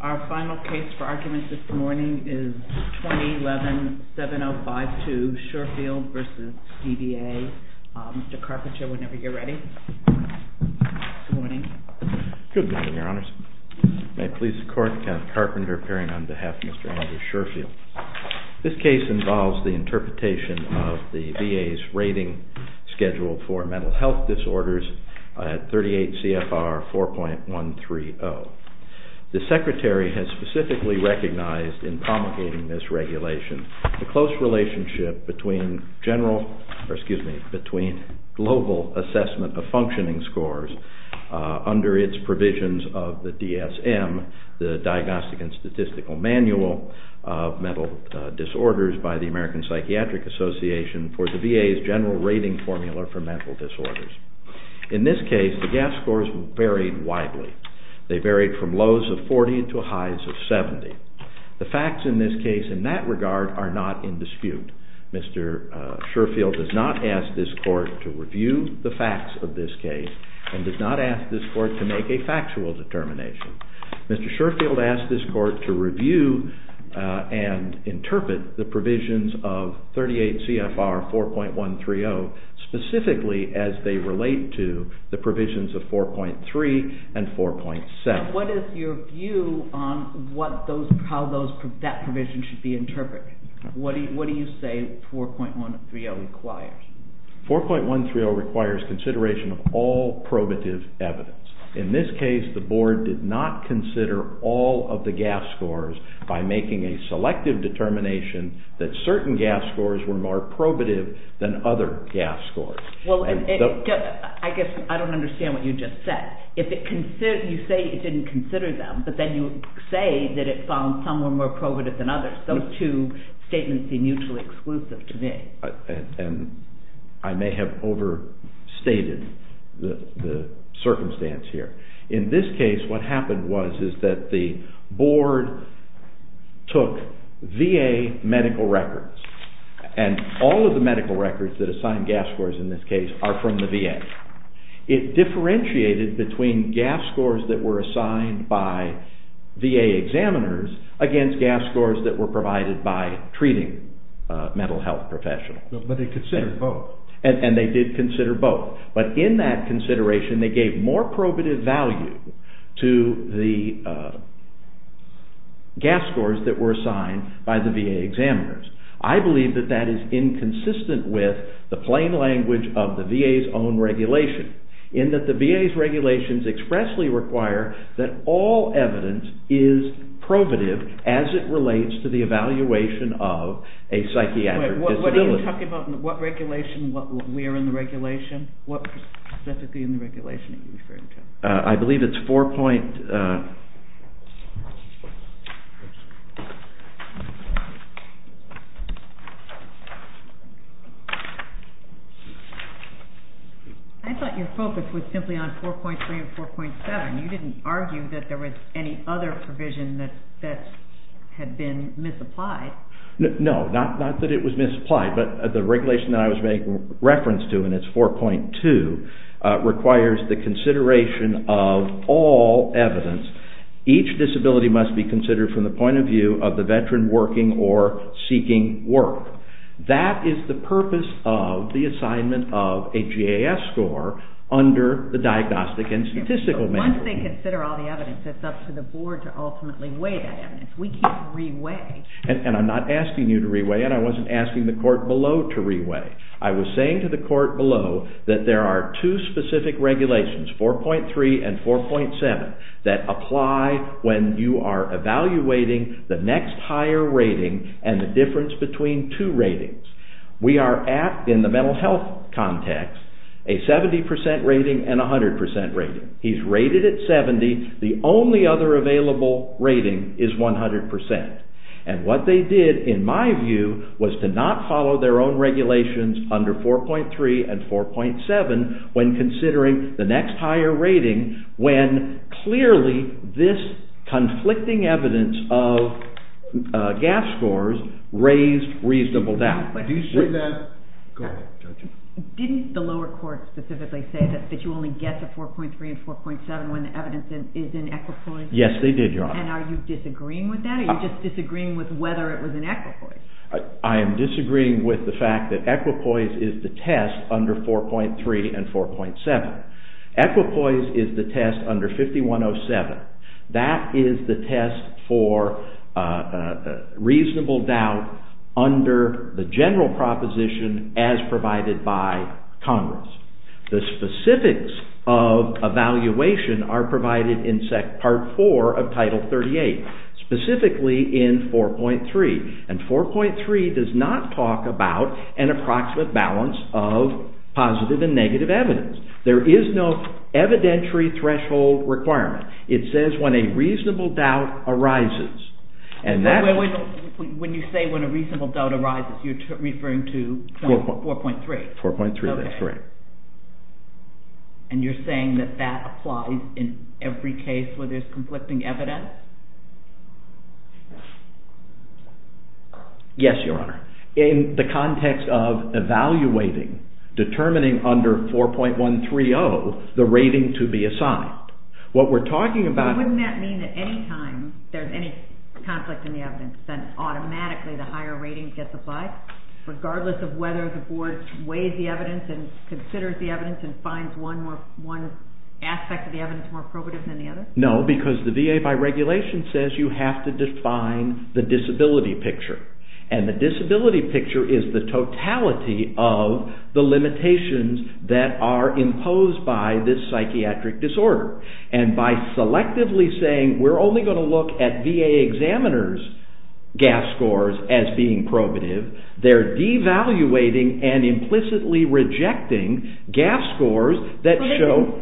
Our final case for argument this morning is 2011-7052, SHERFIELD v. DVA. Mr. Carpenter, whenever you're ready. Good morning. Good morning, Your Honors. May it please the Court, Kent Carpenter appearing on behalf of Mr. Andrew SHERFIELD. This case involves the interpretation of the VA's rating schedule for mental health disorders at 38 CFR 4.130. The Secretary has specifically recognized in promulgating this regulation the close relationship between global assessment of functioning scores under its provisions of the DSM, the Diagnostic and Statistical Manual of Mental Disorders by the American Psychiatric Association, for the VA's general rating formula for mental disorders. In this case, the gas scores varied widely. They varied from lows of 40 to highs of 70. The facts in this case in that regard are not in dispute. Mr. SHERFIELD does not ask this Court to review the facts of this case and does not ask this Court to make a factual determination. Mr. SHERFIELD asked this Court to review and interpret the provisions of 38 CFR 4.130 specifically as they relate to the provisions of 4.3 and 4.7. What is your view on how that provision should be interpreted? What do you say 4.130 requires? 4.130 requires consideration of all probative evidence. In this case, the Board did not consider all of the gas scores by making a selective determination that certain gas scores were more probative than other gas scores. I guess I don't understand what you just said. You say it didn't consider them, but then you say that it found some were more probative than others. Those two statements seem mutually exclusive to me. I may have overstated the circumstance here. In this case, what happened was that the Board took VA medical records, and all of the medical records that assign gas scores in this case are from the VA. It differentiated between gas scores that were assigned by VA examiners against gas scores that were provided by treating mental health professionals. But they considered both. And they did consider both. But in that consideration, they gave more probative value to the gas scores that were assigned by the VA examiners. I believe that that is inconsistent with the plain language of the VA's own regulation, in that the VA's regulations expressly require that all evidence is probative as it relates to the evaluation of a psychiatric disability. What are you talking about? What regulation? We are in the regulation? What specifically in the regulation are you referring to? I believe it's 4. I thought your focus was simply on 4.3 and 4.7. You didn't argue that there was any other provision that had been misapplied. No, not that it was misapplied, but the regulation that I was making reference to, and it's 4.2, requires the consideration of all evidence. Each disability must be considered from the point of view of the veteran working or seeking work. That is the purpose of the assignment of a gas score under the Diagnostic and Statistical Manual. Once they consider all the evidence, it's up to the Board to ultimately weigh that evidence. We can't re-weigh. I'm not asking you to re-weigh, and I wasn't asking the court below to re-weigh. I was saying to the court below that there are two specific regulations, 4.3 and 4.7, that apply when you are evaluating the next higher rating and the difference between two ratings. We are at, in the mental health context, a 70% rating and a 100% rating. He's rated at 70. The only other available rating is 100%. And what they did, in my view, was to not follow their own regulations under 4.3 and 4.7 when considering the next higher rating, when clearly this conflicting evidence of gas scores raised reasonable doubt. Didn't the lower court specifically say that you only get the 4.3 and 4.7 when the evidence is in equipoise? Yes, they did, Your Honor. And are you disagreeing with that? Are you just disagreeing with whether it was in equipoise? I am disagreeing with the fact that equipoise is the test under 4.3 and 4.7. Equipoise is the test under 5107. That is the test for reasonable doubt under the general proposition as provided by Congress. The specifics of evaluation are provided in Part 4 of Title 38, specifically in 4.3. And 4.3 does not talk about an approximate balance of positive and negative evidence. There is no evidentiary threshold requirement. It says when a reasonable doubt arises. When you say when a reasonable doubt arises, you're referring to 4.3. 4.3, that's correct. And you're saying that that applies in every case where there's conflicting evidence? Yes, Your Honor. In the context of evaluating, determining under 4.130 the rating to be assigned. Wouldn't that mean that any time there's any conflict in the evidence, then automatically the higher rating gets applied? Regardless of whether the board weighs the evidence and considers the evidence and finds one aspect of the evidence more probative than the other? No, because the VA by regulation says you have to define the disability picture. And the disability picture is the totality of the limitations that are imposed by this psychiatric disorder. And by selectively saying we're only going to look at VA examiners' GAF scores as being probative, they're devaluating and implicitly rejecting GAF scores that show... What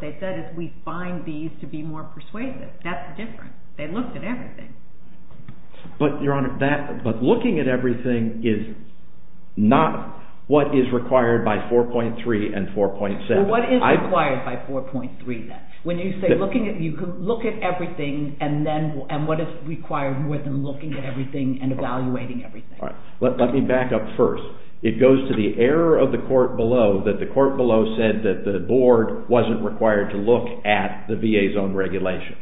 they said is we find these to be more persuasive. That's different. They looked at everything. But, Your Honor, looking at everything is not what is required by 4.3 and 4.7. What is required by 4.3, then? When you say looking at everything and what is required more than looking at everything and evaluating everything? Let me back up first. It goes to the error of the court below that the court below said that the board wasn't required to look at the VA's own regulations.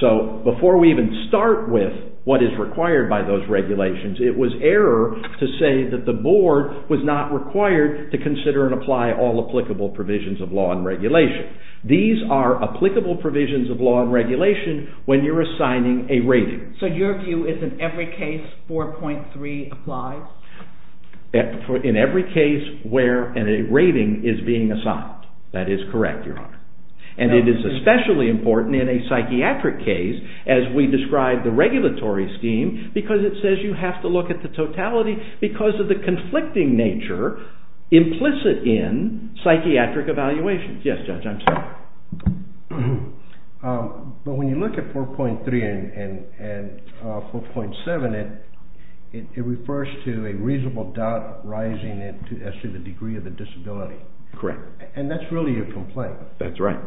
So, before we even start with what is required by those regulations, it was error to say that the board was not required to consider and apply all applicable provisions of law and regulation. These are applicable provisions of law and regulation when you're assigning a rating. So, your view is in every case 4.3 applies? In every case where a rating is being assigned. That is correct, Your Honor. And it is especially important in a psychiatric case as we describe the regulatory scheme because it says you have to look at the totality because of the conflicting nature implicit in psychiatric evaluations. Yes, Judge, I'm sorry. But when you look at 4.3 and 4.7, it refers to a reasonable doubt rising as to the degree of the disability. Correct. And that's really a complaint. That's right.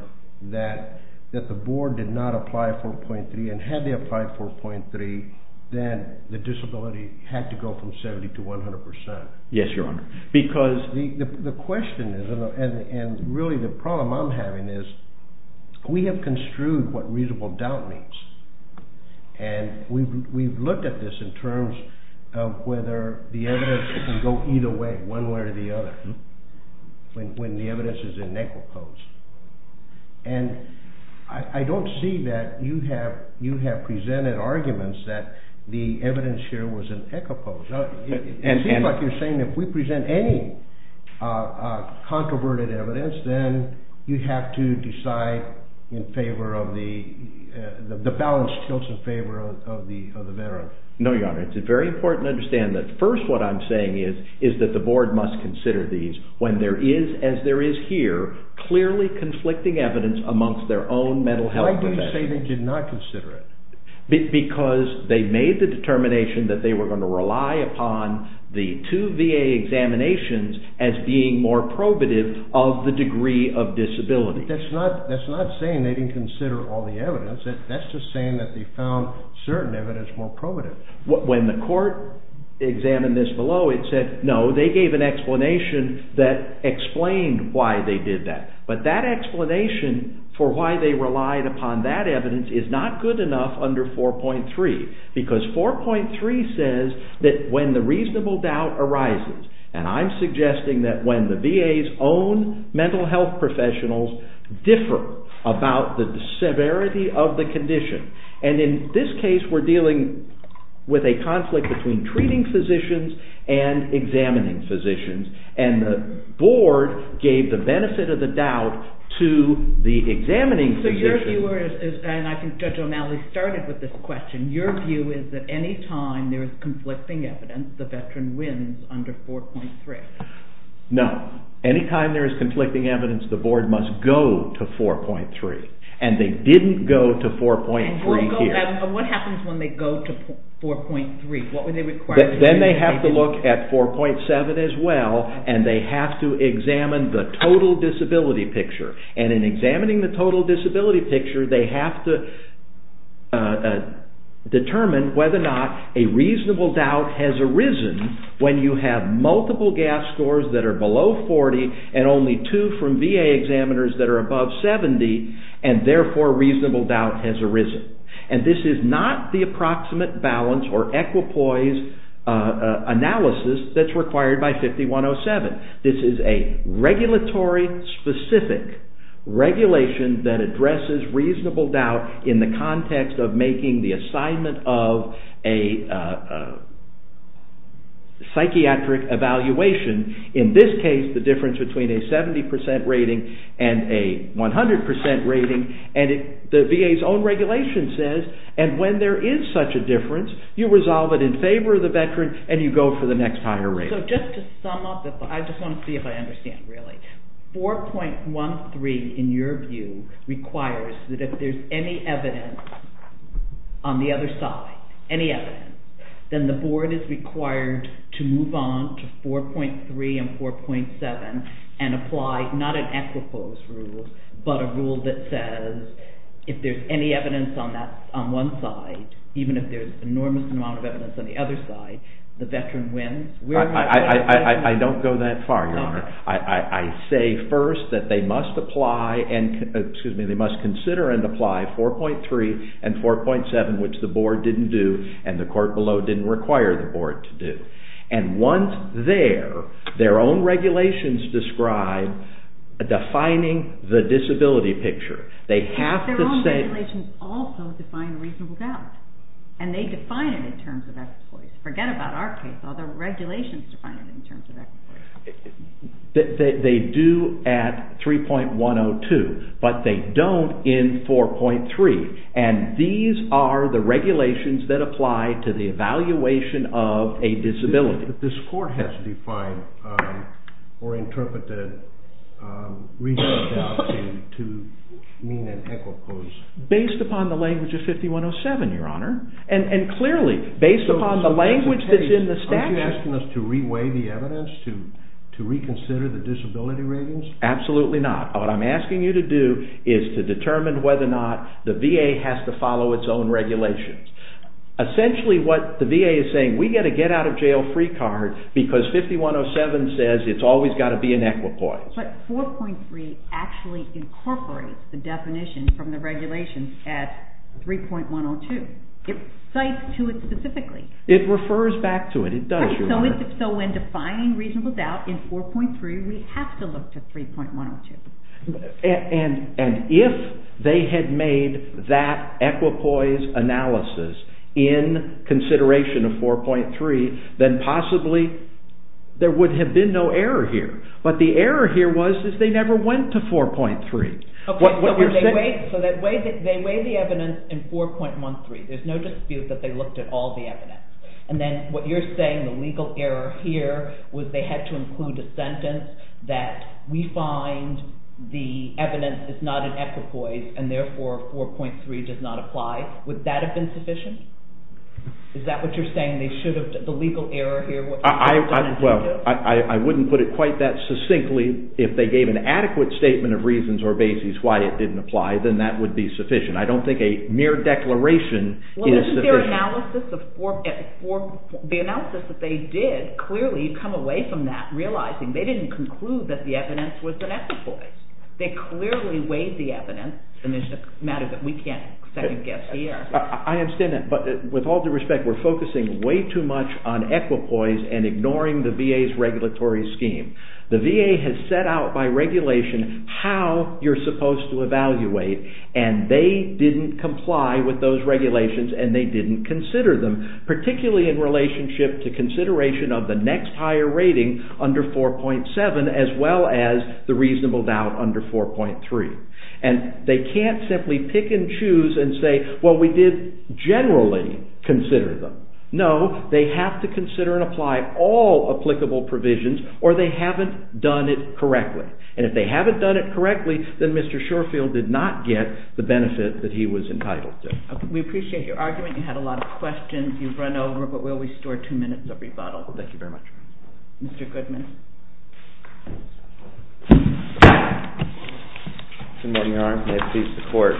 That the board did not apply 4.3 and had they applied 4.3, then the disability had to go from 70 to 100%. Yes, Your Honor. Because the question is, and really the problem I'm having is, we have construed what reasonable doubt means. And we've looked at this in terms of whether the evidence can go either way, one way or the other, when the evidence is in equipose. And I don't see that you have presented arguments that the evidence here was in equipose. It seems like you're saying if we present any controverted evidence, then you have to decide in favor of the balanced skills in favor of the veteran. No, Your Honor, it's very important to understand that first what I'm saying is that the board must consider these when there is, as there is here, clearly conflicting evidence amongst their own mental health professionals. Why do you say they did not consider it? Because they made the determination that they were going to rely upon the two VA examinations as being more probative of the degree of disability. That's not saying they didn't consider all the evidence. That's just saying that they found certain evidence more probative. When the court examined this below, it said, no, they gave an explanation that explained why they did that. But that explanation for why they relied upon that evidence is not good enough under 4.3, because 4.3 says that when the reasonable doubt arises, and I'm suggesting that when the VA's own mental health professionals differ about the severity of the condition, and in this case we're dealing with a conflict between treating physicians and examining physicians, and the board gave the benefit of the doubt to the examining physician. So your view is, and I think Judge O'Malley started with this question, your view is that any time there is conflicting evidence, the veteran wins under 4.3. No. Any time there is conflicting evidence, the board must go to 4.3. And they didn't go to 4.3 here. And what happens when they go to 4.3? Then they have to look at 4.7 as well, and they have to examine the total disability picture. And in examining the total disability picture, they have to determine whether or not a reasonable doubt has arisen when you have multiple gas scores that are below 40 and only two from VA examiners that are above 70, and therefore reasonable doubt has arisen. And this is not the approximate balance or equipoise analysis that's required by 5107. This is a regulatory-specific regulation that addresses reasonable doubt in the context of making the assignment of a psychiatric evaluation, in this case the difference between a 70% rating and a 100% rating, and the VA's own regulation says, and when there is such a difference, you resolve it in favor of the veteran and you go for the next higher rating. So just to sum up, I just want to see if I understand really. 4.13 in your view requires that if there's any evidence on the other side, any evidence, then the board is required to move on to 4.3 and 4.7 and apply not an equipoise rule, but a rule that says if there's any evidence on one side, even if there's an enormous amount of evidence on the other side, the veteran wins? I don't go that far, Your Honor. I say first that they must consider and apply 4.3 and 4.7, which the board didn't do, and the court below didn't require the board to do. And once there, their own regulations describe defining the disability picture. Their own regulations also define reasonable doubt, and they define it in terms of equipoise. Forget about our case, all the regulations define it in terms of equipoise. They do at 3.102, but they don't in 4.3, and these are the regulations that apply to the evaluation of a disability. This court has defined or interpreted reasonable doubt to mean an equipoise. Based upon the language of 5107, Your Honor. And clearly, based upon the language that's in the statute. Aren't you asking us to re-weigh the evidence, to reconsider the disability ratings? Absolutely not. What I'm asking you to do is to determine whether or not the VA has to follow its own regulations. Essentially what the VA is saying, we've got to get out of jail free card because 5107 says it's always got to be an equipoise. But 4.3 actually incorporates the definition from the regulations at 3.102. It cites to it specifically. It refers back to it. It does, Your Honor. So when defining reasonable doubt in 4.3, we have to look to 3.102. And if they had made that equipoise analysis in consideration of 4.3, then possibly there would have been no error here. But the error here was that they never went to 4.3. So they weighed the evidence in 4.13. There's no dispute that they looked at all the evidence. And then what you're saying, the legal error here, was they had to include a sentence that we find the evidence is not an equipoise and therefore 4.3 does not apply. Would that have been sufficient? Is that what you're saying, the legal error here? Well, I wouldn't put it quite that succinctly. If they gave an adequate statement of reasons or basis why it didn't apply, then that would be sufficient. I don't think a mere declaration is sufficient. The analysis that they did, clearly you come away from that realizing they didn't conclude that the evidence was an equipoise. They clearly weighed the evidence. And it's a matter that we can't second-guess here. I understand that. But with all due respect, we're focusing way too much on equipoise and ignoring the VA's regulatory scheme. The VA has set out by regulation how you're supposed to evaluate, and they didn't comply with those regulations and they didn't consider them, particularly in relationship to consideration of the next higher rating under 4.7 as well as the reasonable doubt under 4.3. And they can't simply pick and choose and say, well, we did generally consider them. No, they have to consider and apply all applicable provisions or they haven't done it correctly. And if they haven't done it correctly, then Mr. Shorfield did not get the benefit that he was entitled to. We appreciate your argument. You had a lot of questions. You've run over, but we'll restore two minutes of rebuttal. Thank you very much. Mr. Goodman. Good morning, Your Honor. May it please the Court.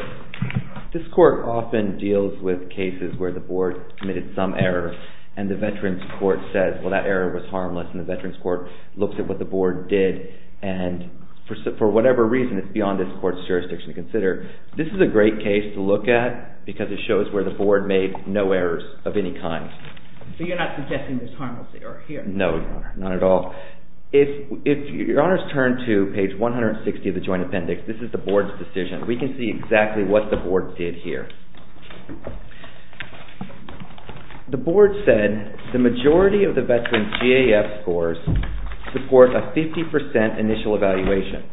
This Court often deals with cases where the Board committed some error and the Veterans Court says, well, that error was harmless, and the Veterans Court looks at what the Board did. And for whatever reason, it's beyond this Court's jurisdiction to consider. This is a great case to look at because it shows where the Board made no errors of any kind. So you're not suggesting there's harmless error here? No, Your Honor. Not at all. If Your Honors turn to page 160 of the Joint Appendix, this is the Board's decision. We can see exactly what the Board did here. The Board said the majority of the Veterans' GAF scores support a 50% initial evaluation,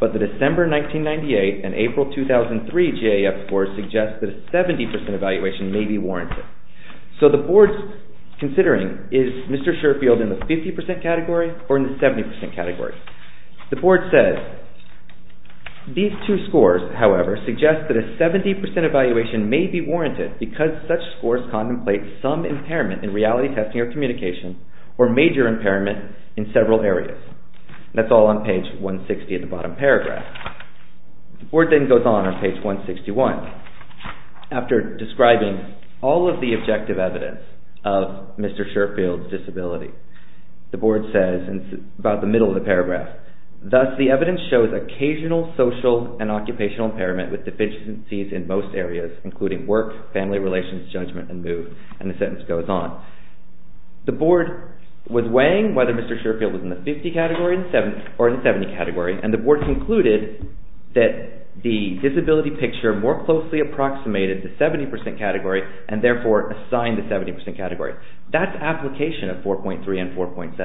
but the December 1998 and April 2003 GAF scores suggest that a 70% evaluation may be warranted. So the Board's considering, is Mr. Shurfield in the 50% category or in the 70% category? The Board says these two scores, however, suggest that a 70% evaluation may be warranted. because such scores contemplate some impairment in reality testing or communication or major impairment in several areas. That's all on page 160 of the bottom paragraph. The Board then goes on on page 161. After describing all of the objective evidence of Mr. Shurfield's disability, the Board says, and it's about the middle of the paragraph, Thus, the evidence shows occasional social and occupational impairment with deficiencies in most areas, including work, family relations, judgment, and mood, and the sentence goes on. The Board was weighing whether Mr. Shurfield was in the 50% category or in the 70% category, and the Board concluded that the disability picture more closely approximated the 70% category and therefore assigned the 70% category. That's application of 4.3 and 4.7.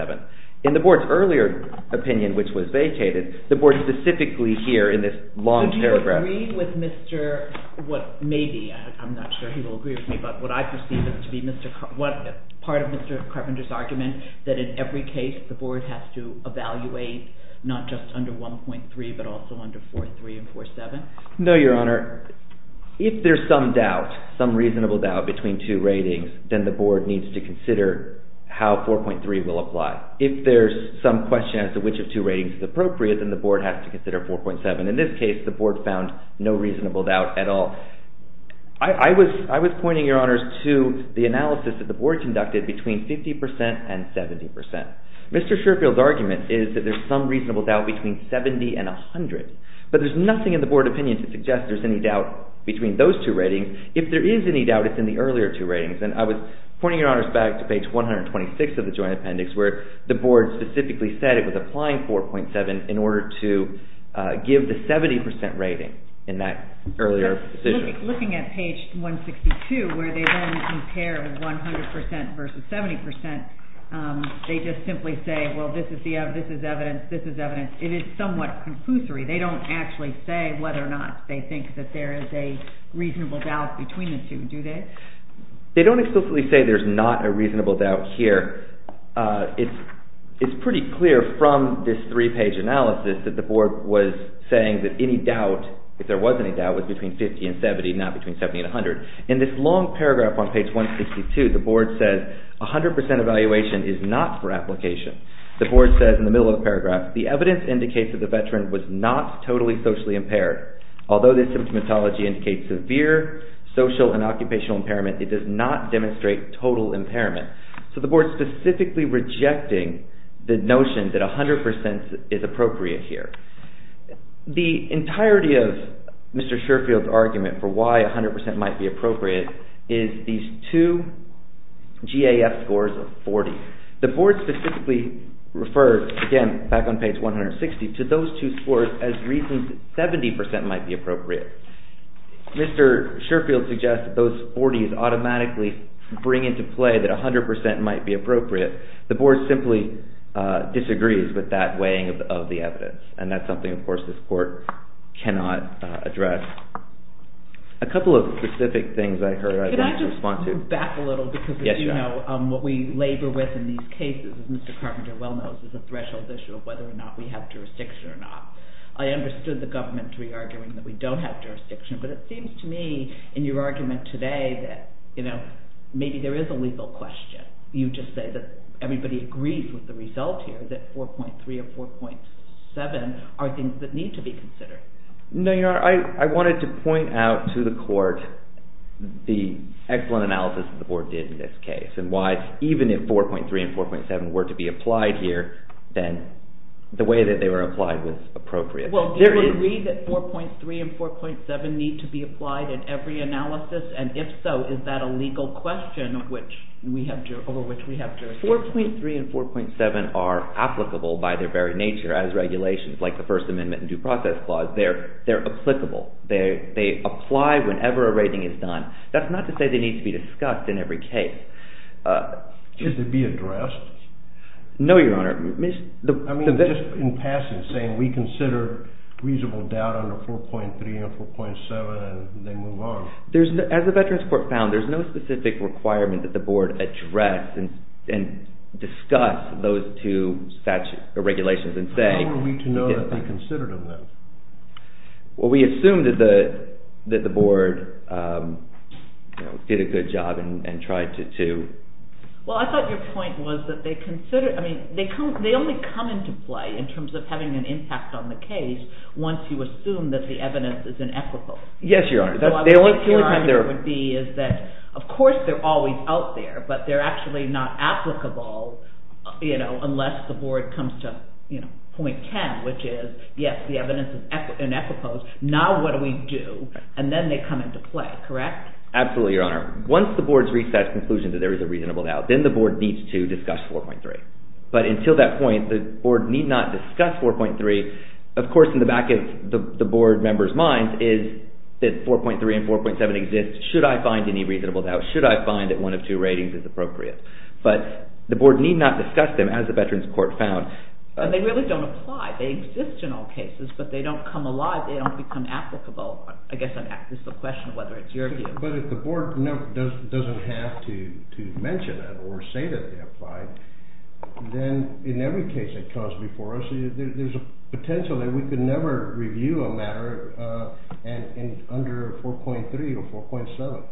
In the Board's earlier opinion, which was vacated, the Board specifically here in this long paragraph Do you agree with Mr. Maybe, I'm not sure he will agree with me, but what I perceive to be part of Mr. Carpenter's argument that in every case the Board has to evaluate not just under 1.3 but also under 4.3 and 4.7? No, Your Honor. If there's some doubt, some reasonable doubt between two ratings, then the Board needs to consider how 4.3 will apply. If there's some question as to which of two ratings is appropriate, then the Board has to consider 4.7. In this case, the Board found no reasonable doubt at all. I was pointing, Your Honors, to the analysis that the Board conducted between 50% and 70%. Mr. Shurfield's argument is that there's some reasonable doubt between 70 and 100, but there's nothing in the Board opinion to suggest there's any doubt between those two ratings. If there is any doubt, it's in the earlier two ratings. And I was pointing, Your Honors, back to page 126 of the joint appendix where the Board specifically said it was applying 4.7 in order to give the 70% rating in that earlier decision. Looking at page 162 where they then compare 100% versus 70%, they just simply say, well, this is evidence, this is evidence. It is somewhat conclusory. They don't actually say whether or not they think that there is a reasonable doubt between the two, do they? They don't explicitly say there's not a reasonable doubt here. It's pretty clear from this three-page analysis that the Board was saying that any doubt, if there was any doubt, was between 50 and 70, not between 70 and 100. In this long paragraph on page 162, the Board says 100% evaluation is not for application. The Board says in the middle of the paragraph, the evidence indicates that the veteran was not totally socially impaired. Although this symptomatology indicates severe social and occupational impairment, it does not demonstrate total impairment. So the Board is specifically rejecting the notion that 100% is appropriate here. The entirety of Mr. Shearfield's argument for why 100% might be appropriate is these two GAF scores of 40. The Board specifically refers, again, back on page 160, to those two scores as reasons that 70% might be appropriate. Mr. Shearfield suggests that those 40s automatically bring into play that 100% might be appropriate. The Board simply disagrees with that weighing of the evidence, and that's something, of course, this Court cannot address. A couple of specific things I heard I'd like to respond to. I want to move back a little because, as you know, what we labor with in these cases, as Mr. Carpenter well knows, is a threshold issue of whether or not we have jurisdiction or not. I understood the government re-arguing that we don't have jurisdiction, but it seems to me, in your argument today, that maybe there is a legal question. You just say that everybody agrees with the result here, that 4.3 or 4.7 are things that need to be considered. I wanted to point out to the Court the excellent analysis that the Board did in this case, and why even if 4.3 and 4.7 were to be applied here, then the way that they were applied was appropriate. Well, do we agree that 4.3 and 4.7 need to be applied in every analysis? And if so, is that a legal question over which we have jurisdiction? If 4.3 and 4.7 are applicable by their very nature as regulations, like the First Amendment and Due Process Clause, they're applicable. They apply whenever a rating is done. That's not to say they need to be discussed in every case. Should they be addressed? No, Your Honor. I mean, just in passing, saying we consider reasonable doubt under 4.3 and 4.7, and they move on. As the Veterans Court found, there's no specific requirement that the Board address and discuss those two regulations and say... How are we to know that they considered them, then? Well, we assume that the Board did a good job and tried to... Well, I thought your point was that they only come into play in terms of having an impact on the case once you assume that the evidence is inequitable. Yes, Your Honor. The only time there would be is that, of course, they're always out there, but they're actually not applicable unless the Board comes to point 10, which is, yes, the evidence is inequitable. Now what do we do? And then they come into play, correct? Absolutely, Your Honor. Once the Board's reached that conclusion that there is a reasonable doubt, then the Board needs to discuss 4.3. But until that point, the Board need not discuss 4.3. Of course, in the back of the Board members' minds is that 4.3 and 4.7 exist. Should I find any reasonable doubt? Should I find that one of two ratings is appropriate? But the Board need not discuss them, as the Veterans Court found. But they really don't apply. They exist in all cases, but they don't come alive. They don't become applicable. I guess this is a question of whether it's your view. But if the Board doesn't have to mention it or say that they apply, then in every case that comes before us, there's a potential that we could never review a matter under 4.3 or 4.7.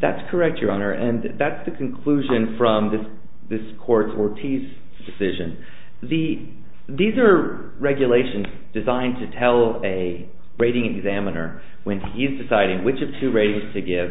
That's correct, Your Honor, and that's the conclusion from this Court's Ortiz decision. These are regulations designed to tell a rating examiner, when he's deciding which of two ratings to give,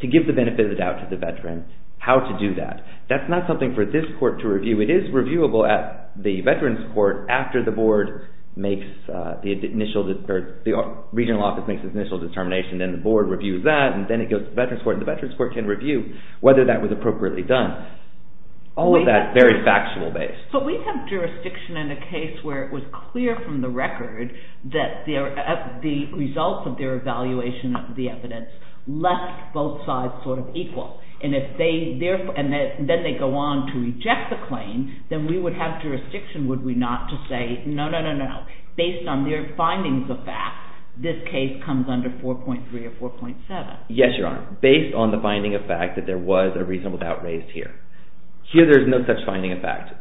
to give the benefit of the doubt to the Veteran, how to do that. That's not something for this Court to review. It is reviewable at the Veterans Court after the Board makes the initial determination. Then the Board reviews that, and then it goes to the Veterans Court, and the Veterans Court can review whether that was appropriately done. All of that is very factual-based. But we have jurisdiction in a case where it was clear from the record that the results of their evaluation of the evidence left both sides sort of equal. And if they go on to reject the claim, then we would have jurisdiction, would we not, to say, no, no, no, no, based on their findings of fact, this case comes under 4.3 or 4.7. Yes, Your Honor, based on the finding of fact that there was a reasonable doubt raised here. Here there's no such finding of fact.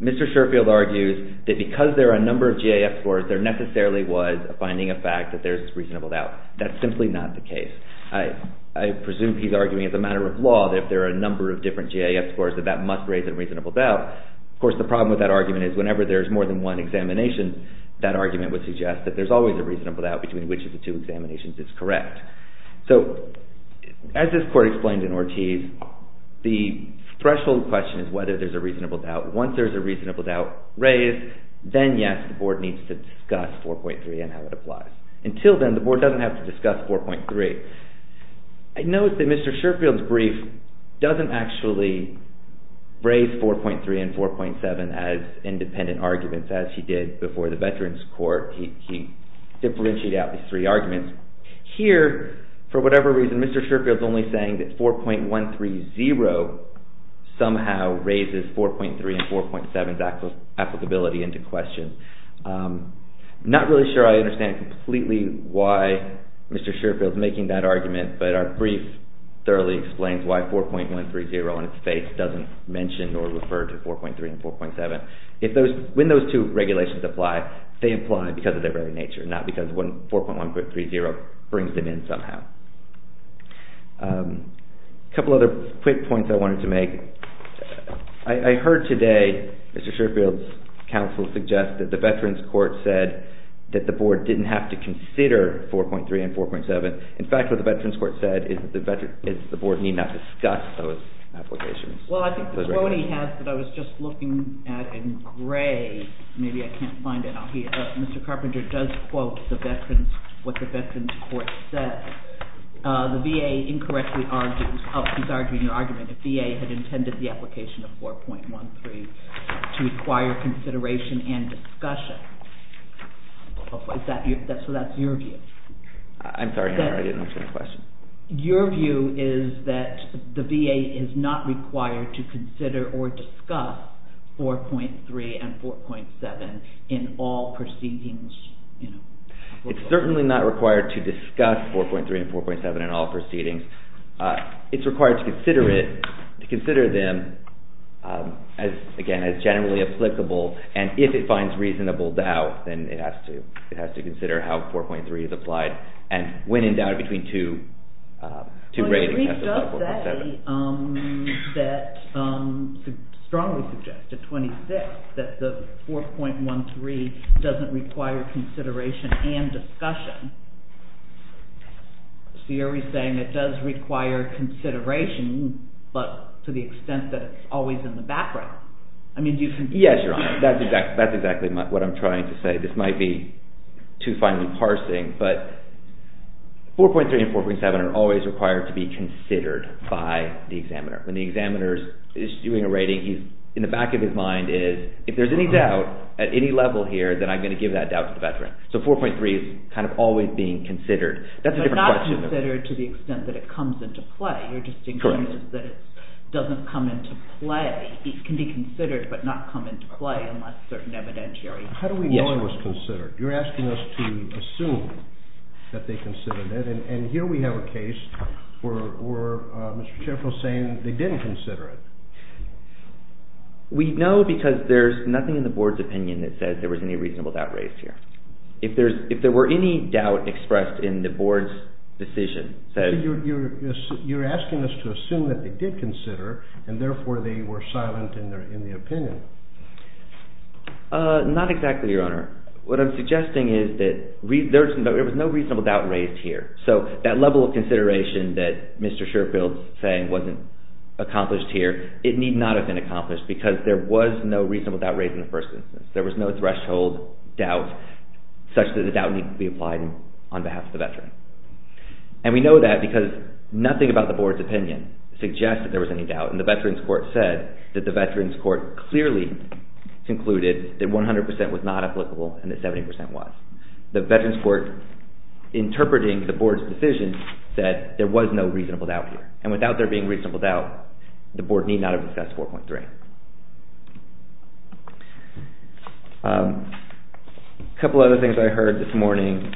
Mr. Shurfield argues that because there are a number of GAF scores, there necessarily was a finding of fact that there's a reasonable doubt. That's simply not the case. I presume he's arguing as a matter of law that if there are a number of different GAF scores, that that must raise a reasonable doubt. Of course, the problem with that argument is whenever there's more than one examination, that argument would suggest that there's always a reasonable doubt between which of the two examinations is correct. So as this Court explained in Ortiz, the threshold question is whether there's a reasonable doubt. Once there's a reasonable doubt raised, then yes, the Board needs to discuss 4.3 and how it applies. Until then, the Board doesn't have to discuss 4.3. I noticed that Mr. Shurfield's brief doesn't actually raise 4.3 and 4.7 as independent arguments as he did before the Veterans Court. He differentiated out these three arguments. Here, for whatever reason, Mr. Shurfield's only saying that 4.130 somehow raises 4.3 and 4.7's applicability into question. I'm not really sure I understand completely why Mr. Shurfield's making that argument, but our brief thoroughly explains why 4.130 on its face doesn't mention or refer to 4.3 and 4.7. When those two regulations apply, they apply because of their very nature, not because 4.130 brings them in somehow. A couple other quick points I wanted to make. I heard today Mr. Shurfield's counsel suggest that the Veterans Court said that the Board didn't have to consider 4.3 and 4.7. In fact, what the Veterans Court said is that the Board need not discuss those applications. Well, I think the quote he has that I was just looking at in gray, maybe I can't find it. Mr. Carpenter does quote what the Veterans Court said. The VA incorrectly argues, he's arguing your argument, the VA had intended the application of 4.13 to require consideration and discussion. So that's your view. I'm sorry, I didn't understand the question. Your view is that the VA is not required to consider or discuss 4.3 and 4.7 in all proceedings. It's certainly not required to discuss 4.3 and 4.7 in all proceedings. It's required to consider them as, again, as generally applicable, and if it finds reasonable doubt, then it has to consider how 4.3 is applied, and when in doubt between two ratings. He does say that, strongly suggested, 26, that the 4.13 doesn't require consideration and discussion. So you're saying it does require consideration, but to the extent that it's always in the background. Yes, Your Honor, that's exactly what I'm trying to say. This might be too finely parsing, but 4.3 and 4.7 are always required to be considered by the examiner. When the examiner is doing a rating, in the back of his mind is, if there's any doubt at any level here, then I'm going to give that doubt to the veteran. So 4.3 is kind of always being considered. But not considered to the extent that it comes into play. You're just saying that it doesn't come into play. It can be considered, but not come into play unless certain evidentiary. How do we know it was considered? You're asking us to assume that they considered it, and here we have a case where Mr. Sheffield is saying they didn't consider it. We know because there's nothing in the board's opinion that says there was any reasonable doubt raised here. If there were any doubt expressed in the board's decision that... You're asking us to assume that they did consider, and therefore they were silent in the opinion. Not exactly, Your Honor. What I'm suggesting is that there was no reasonable doubt raised here. So that level of consideration that Mr. Sheffield is saying wasn't accomplished here, it need not have been accomplished because there was no reasonable doubt raised in the first instance. There was no threshold doubt such that the doubt needs to be applied on behalf of the veteran. And we know that because nothing about the board's opinion suggests that there was any doubt, and the Veterans Court said that the Veterans Court clearly concluded that 100% was not applicable and that 70% was. The Veterans Court, interpreting the board's decision, said there was no reasonable doubt here, and without there being reasonable doubt, the board need not have discussed 4.3. A couple of other things I heard this morning,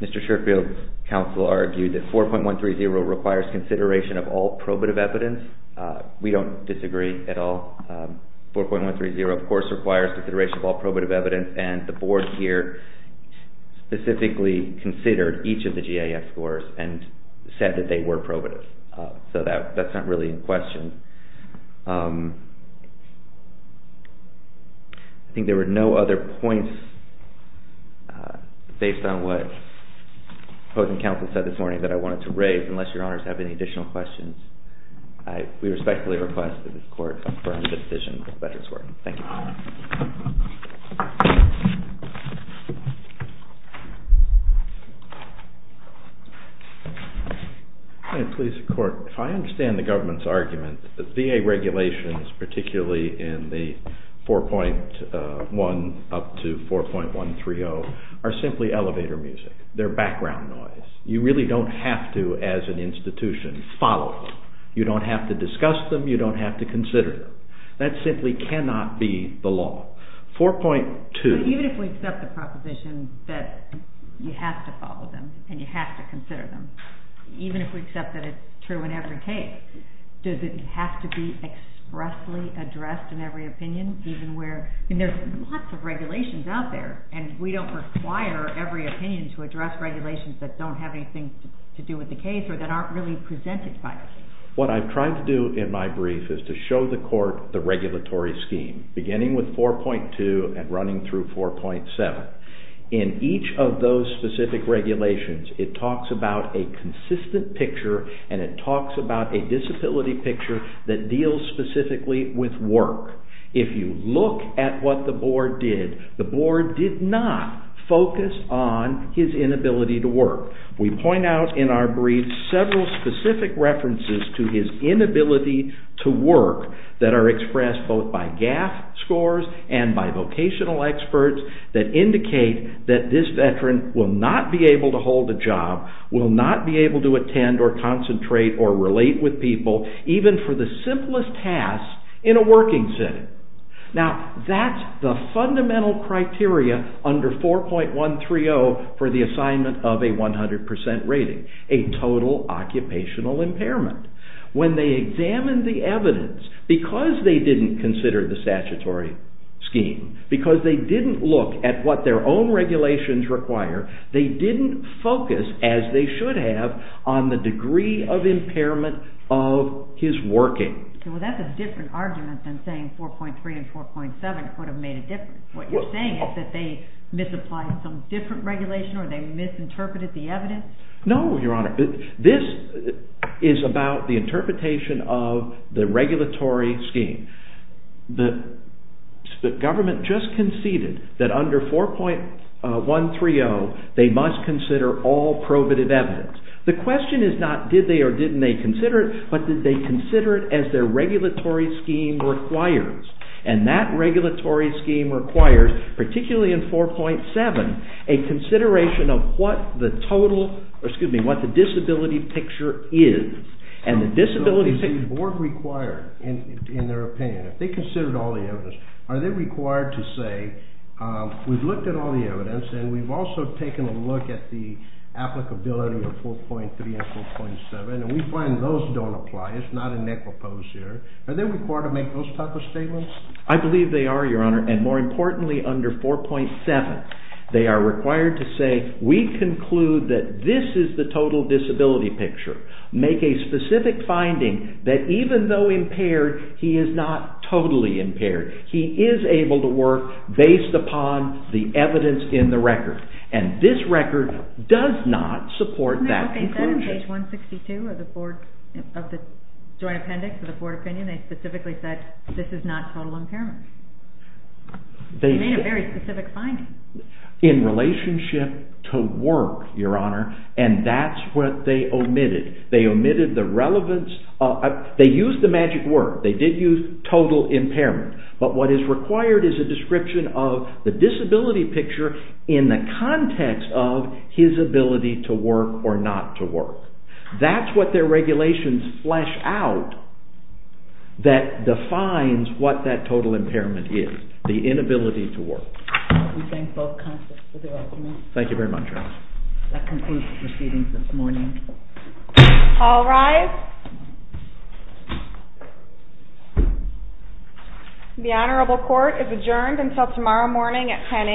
Mr. Sheffield's counsel argued that 4.130 requires consideration of all probative evidence. We don't disagree at all. 4.130, of course, requires consideration of all probative evidence, and the board here specifically considered each of the GAF scores and said that they were probative. So that's not really in question. I think there were no other points based on what the opposing counsel said this morning that I wanted to raise, unless your honors have any additional questions. We respectfully request that the court confirm the decision of the Veterans Court. Thank you. May it please the court. If I understand the government's argument, VA regulations, particularly in the 4.1 up to 4.130, are simply elevator music. They're background noise. You really don't have to, as an institution, follow them. You don't have to discuss them. You don't have to consider them. That simply cannot be the law. 4.2... Even if we accept the proposition that you have to follow them and you have to consider them, even if we accept that it's true in every case, does it have to be expressly addressed in every opinion? There's lots of regulations out there, and we don't require every opinion to address regulations that don't have anything to do with the case or that aren't really presented by us. What I've tried to do in my brief is to show the court the regulatory scheme, beginning with 4.2 and running through 4.7. In each of those specific regulations, it talks about a consistent picture and it talks about a disability picture that deals specifically with work. If you look at what the board did, the board did not focus on his inability to work. We point out in our brief several specific references to his inability to work that are expressed both by GAF scores and by vocational experts that indicate that this veteran will not be able to hold a job, will not be able to attend or concentrate or relate with people, even for the simplest task in a working setting. Now, that's the fundamental criteria under 4.130 for the assignment of a 100% rating, a total occupational impairment. When they examined the evidence, because they didn't consider the statutory scheme, because they didn't look at what their own regulations require, they didn't focus, as they should have, on the degree of impairment of his working. Well, that's a different argument than saying 4.3 and 4.7 could have made a difference. What you're saying is that they misapplied some different regulation or they misinterpreted the evidence? No, Your Honor. This is about the interpretation of the regulatory scheme. The government just conceded that under 4.130 they must consider all probative evidence. The question is not did they or didn't they consider it, but did they consider it as their regulatory scheme requires. And that regulatory scheme requires, particularly in 4.7, a consideration of what the disability picture is. So is the board required, in their opinion, if they considered all the evidence, are they required to say, we've looked at all the evidence and we've also taken a look at the applicability of 4.3 and 4.7 and we find those don't apply, it's not a necropos here. Are they required to make those type of statements? I believe they are, Your Honor, and more importantly, under 4.7, they are required to say, we conclude that this is the total disability picture. Make a specific finding that even though impaired, he is not totally impaired. He is able to work based upon the evidence in the record. And this record does not support that conclusion. In page 162 of the joint appendix of the board opinion, they specifically said this is not total impairment. They made a very specific finding. In relationship to work, Your Honor, and that's what they omitted. They omitted the relevance, they used the magic word, they did use total impairment. But what is required is a description of the disability picture in the context of his ability to work or not to work. That's what their regulations flesh out that defines what that total impairment is, the inability to work. We thank both counsels for their arguments. Thank you very much, Your Honor. That concludes proceedings this morning. All rise. The Honorable Court is adjourned until tomorrow morning at 10 a.m.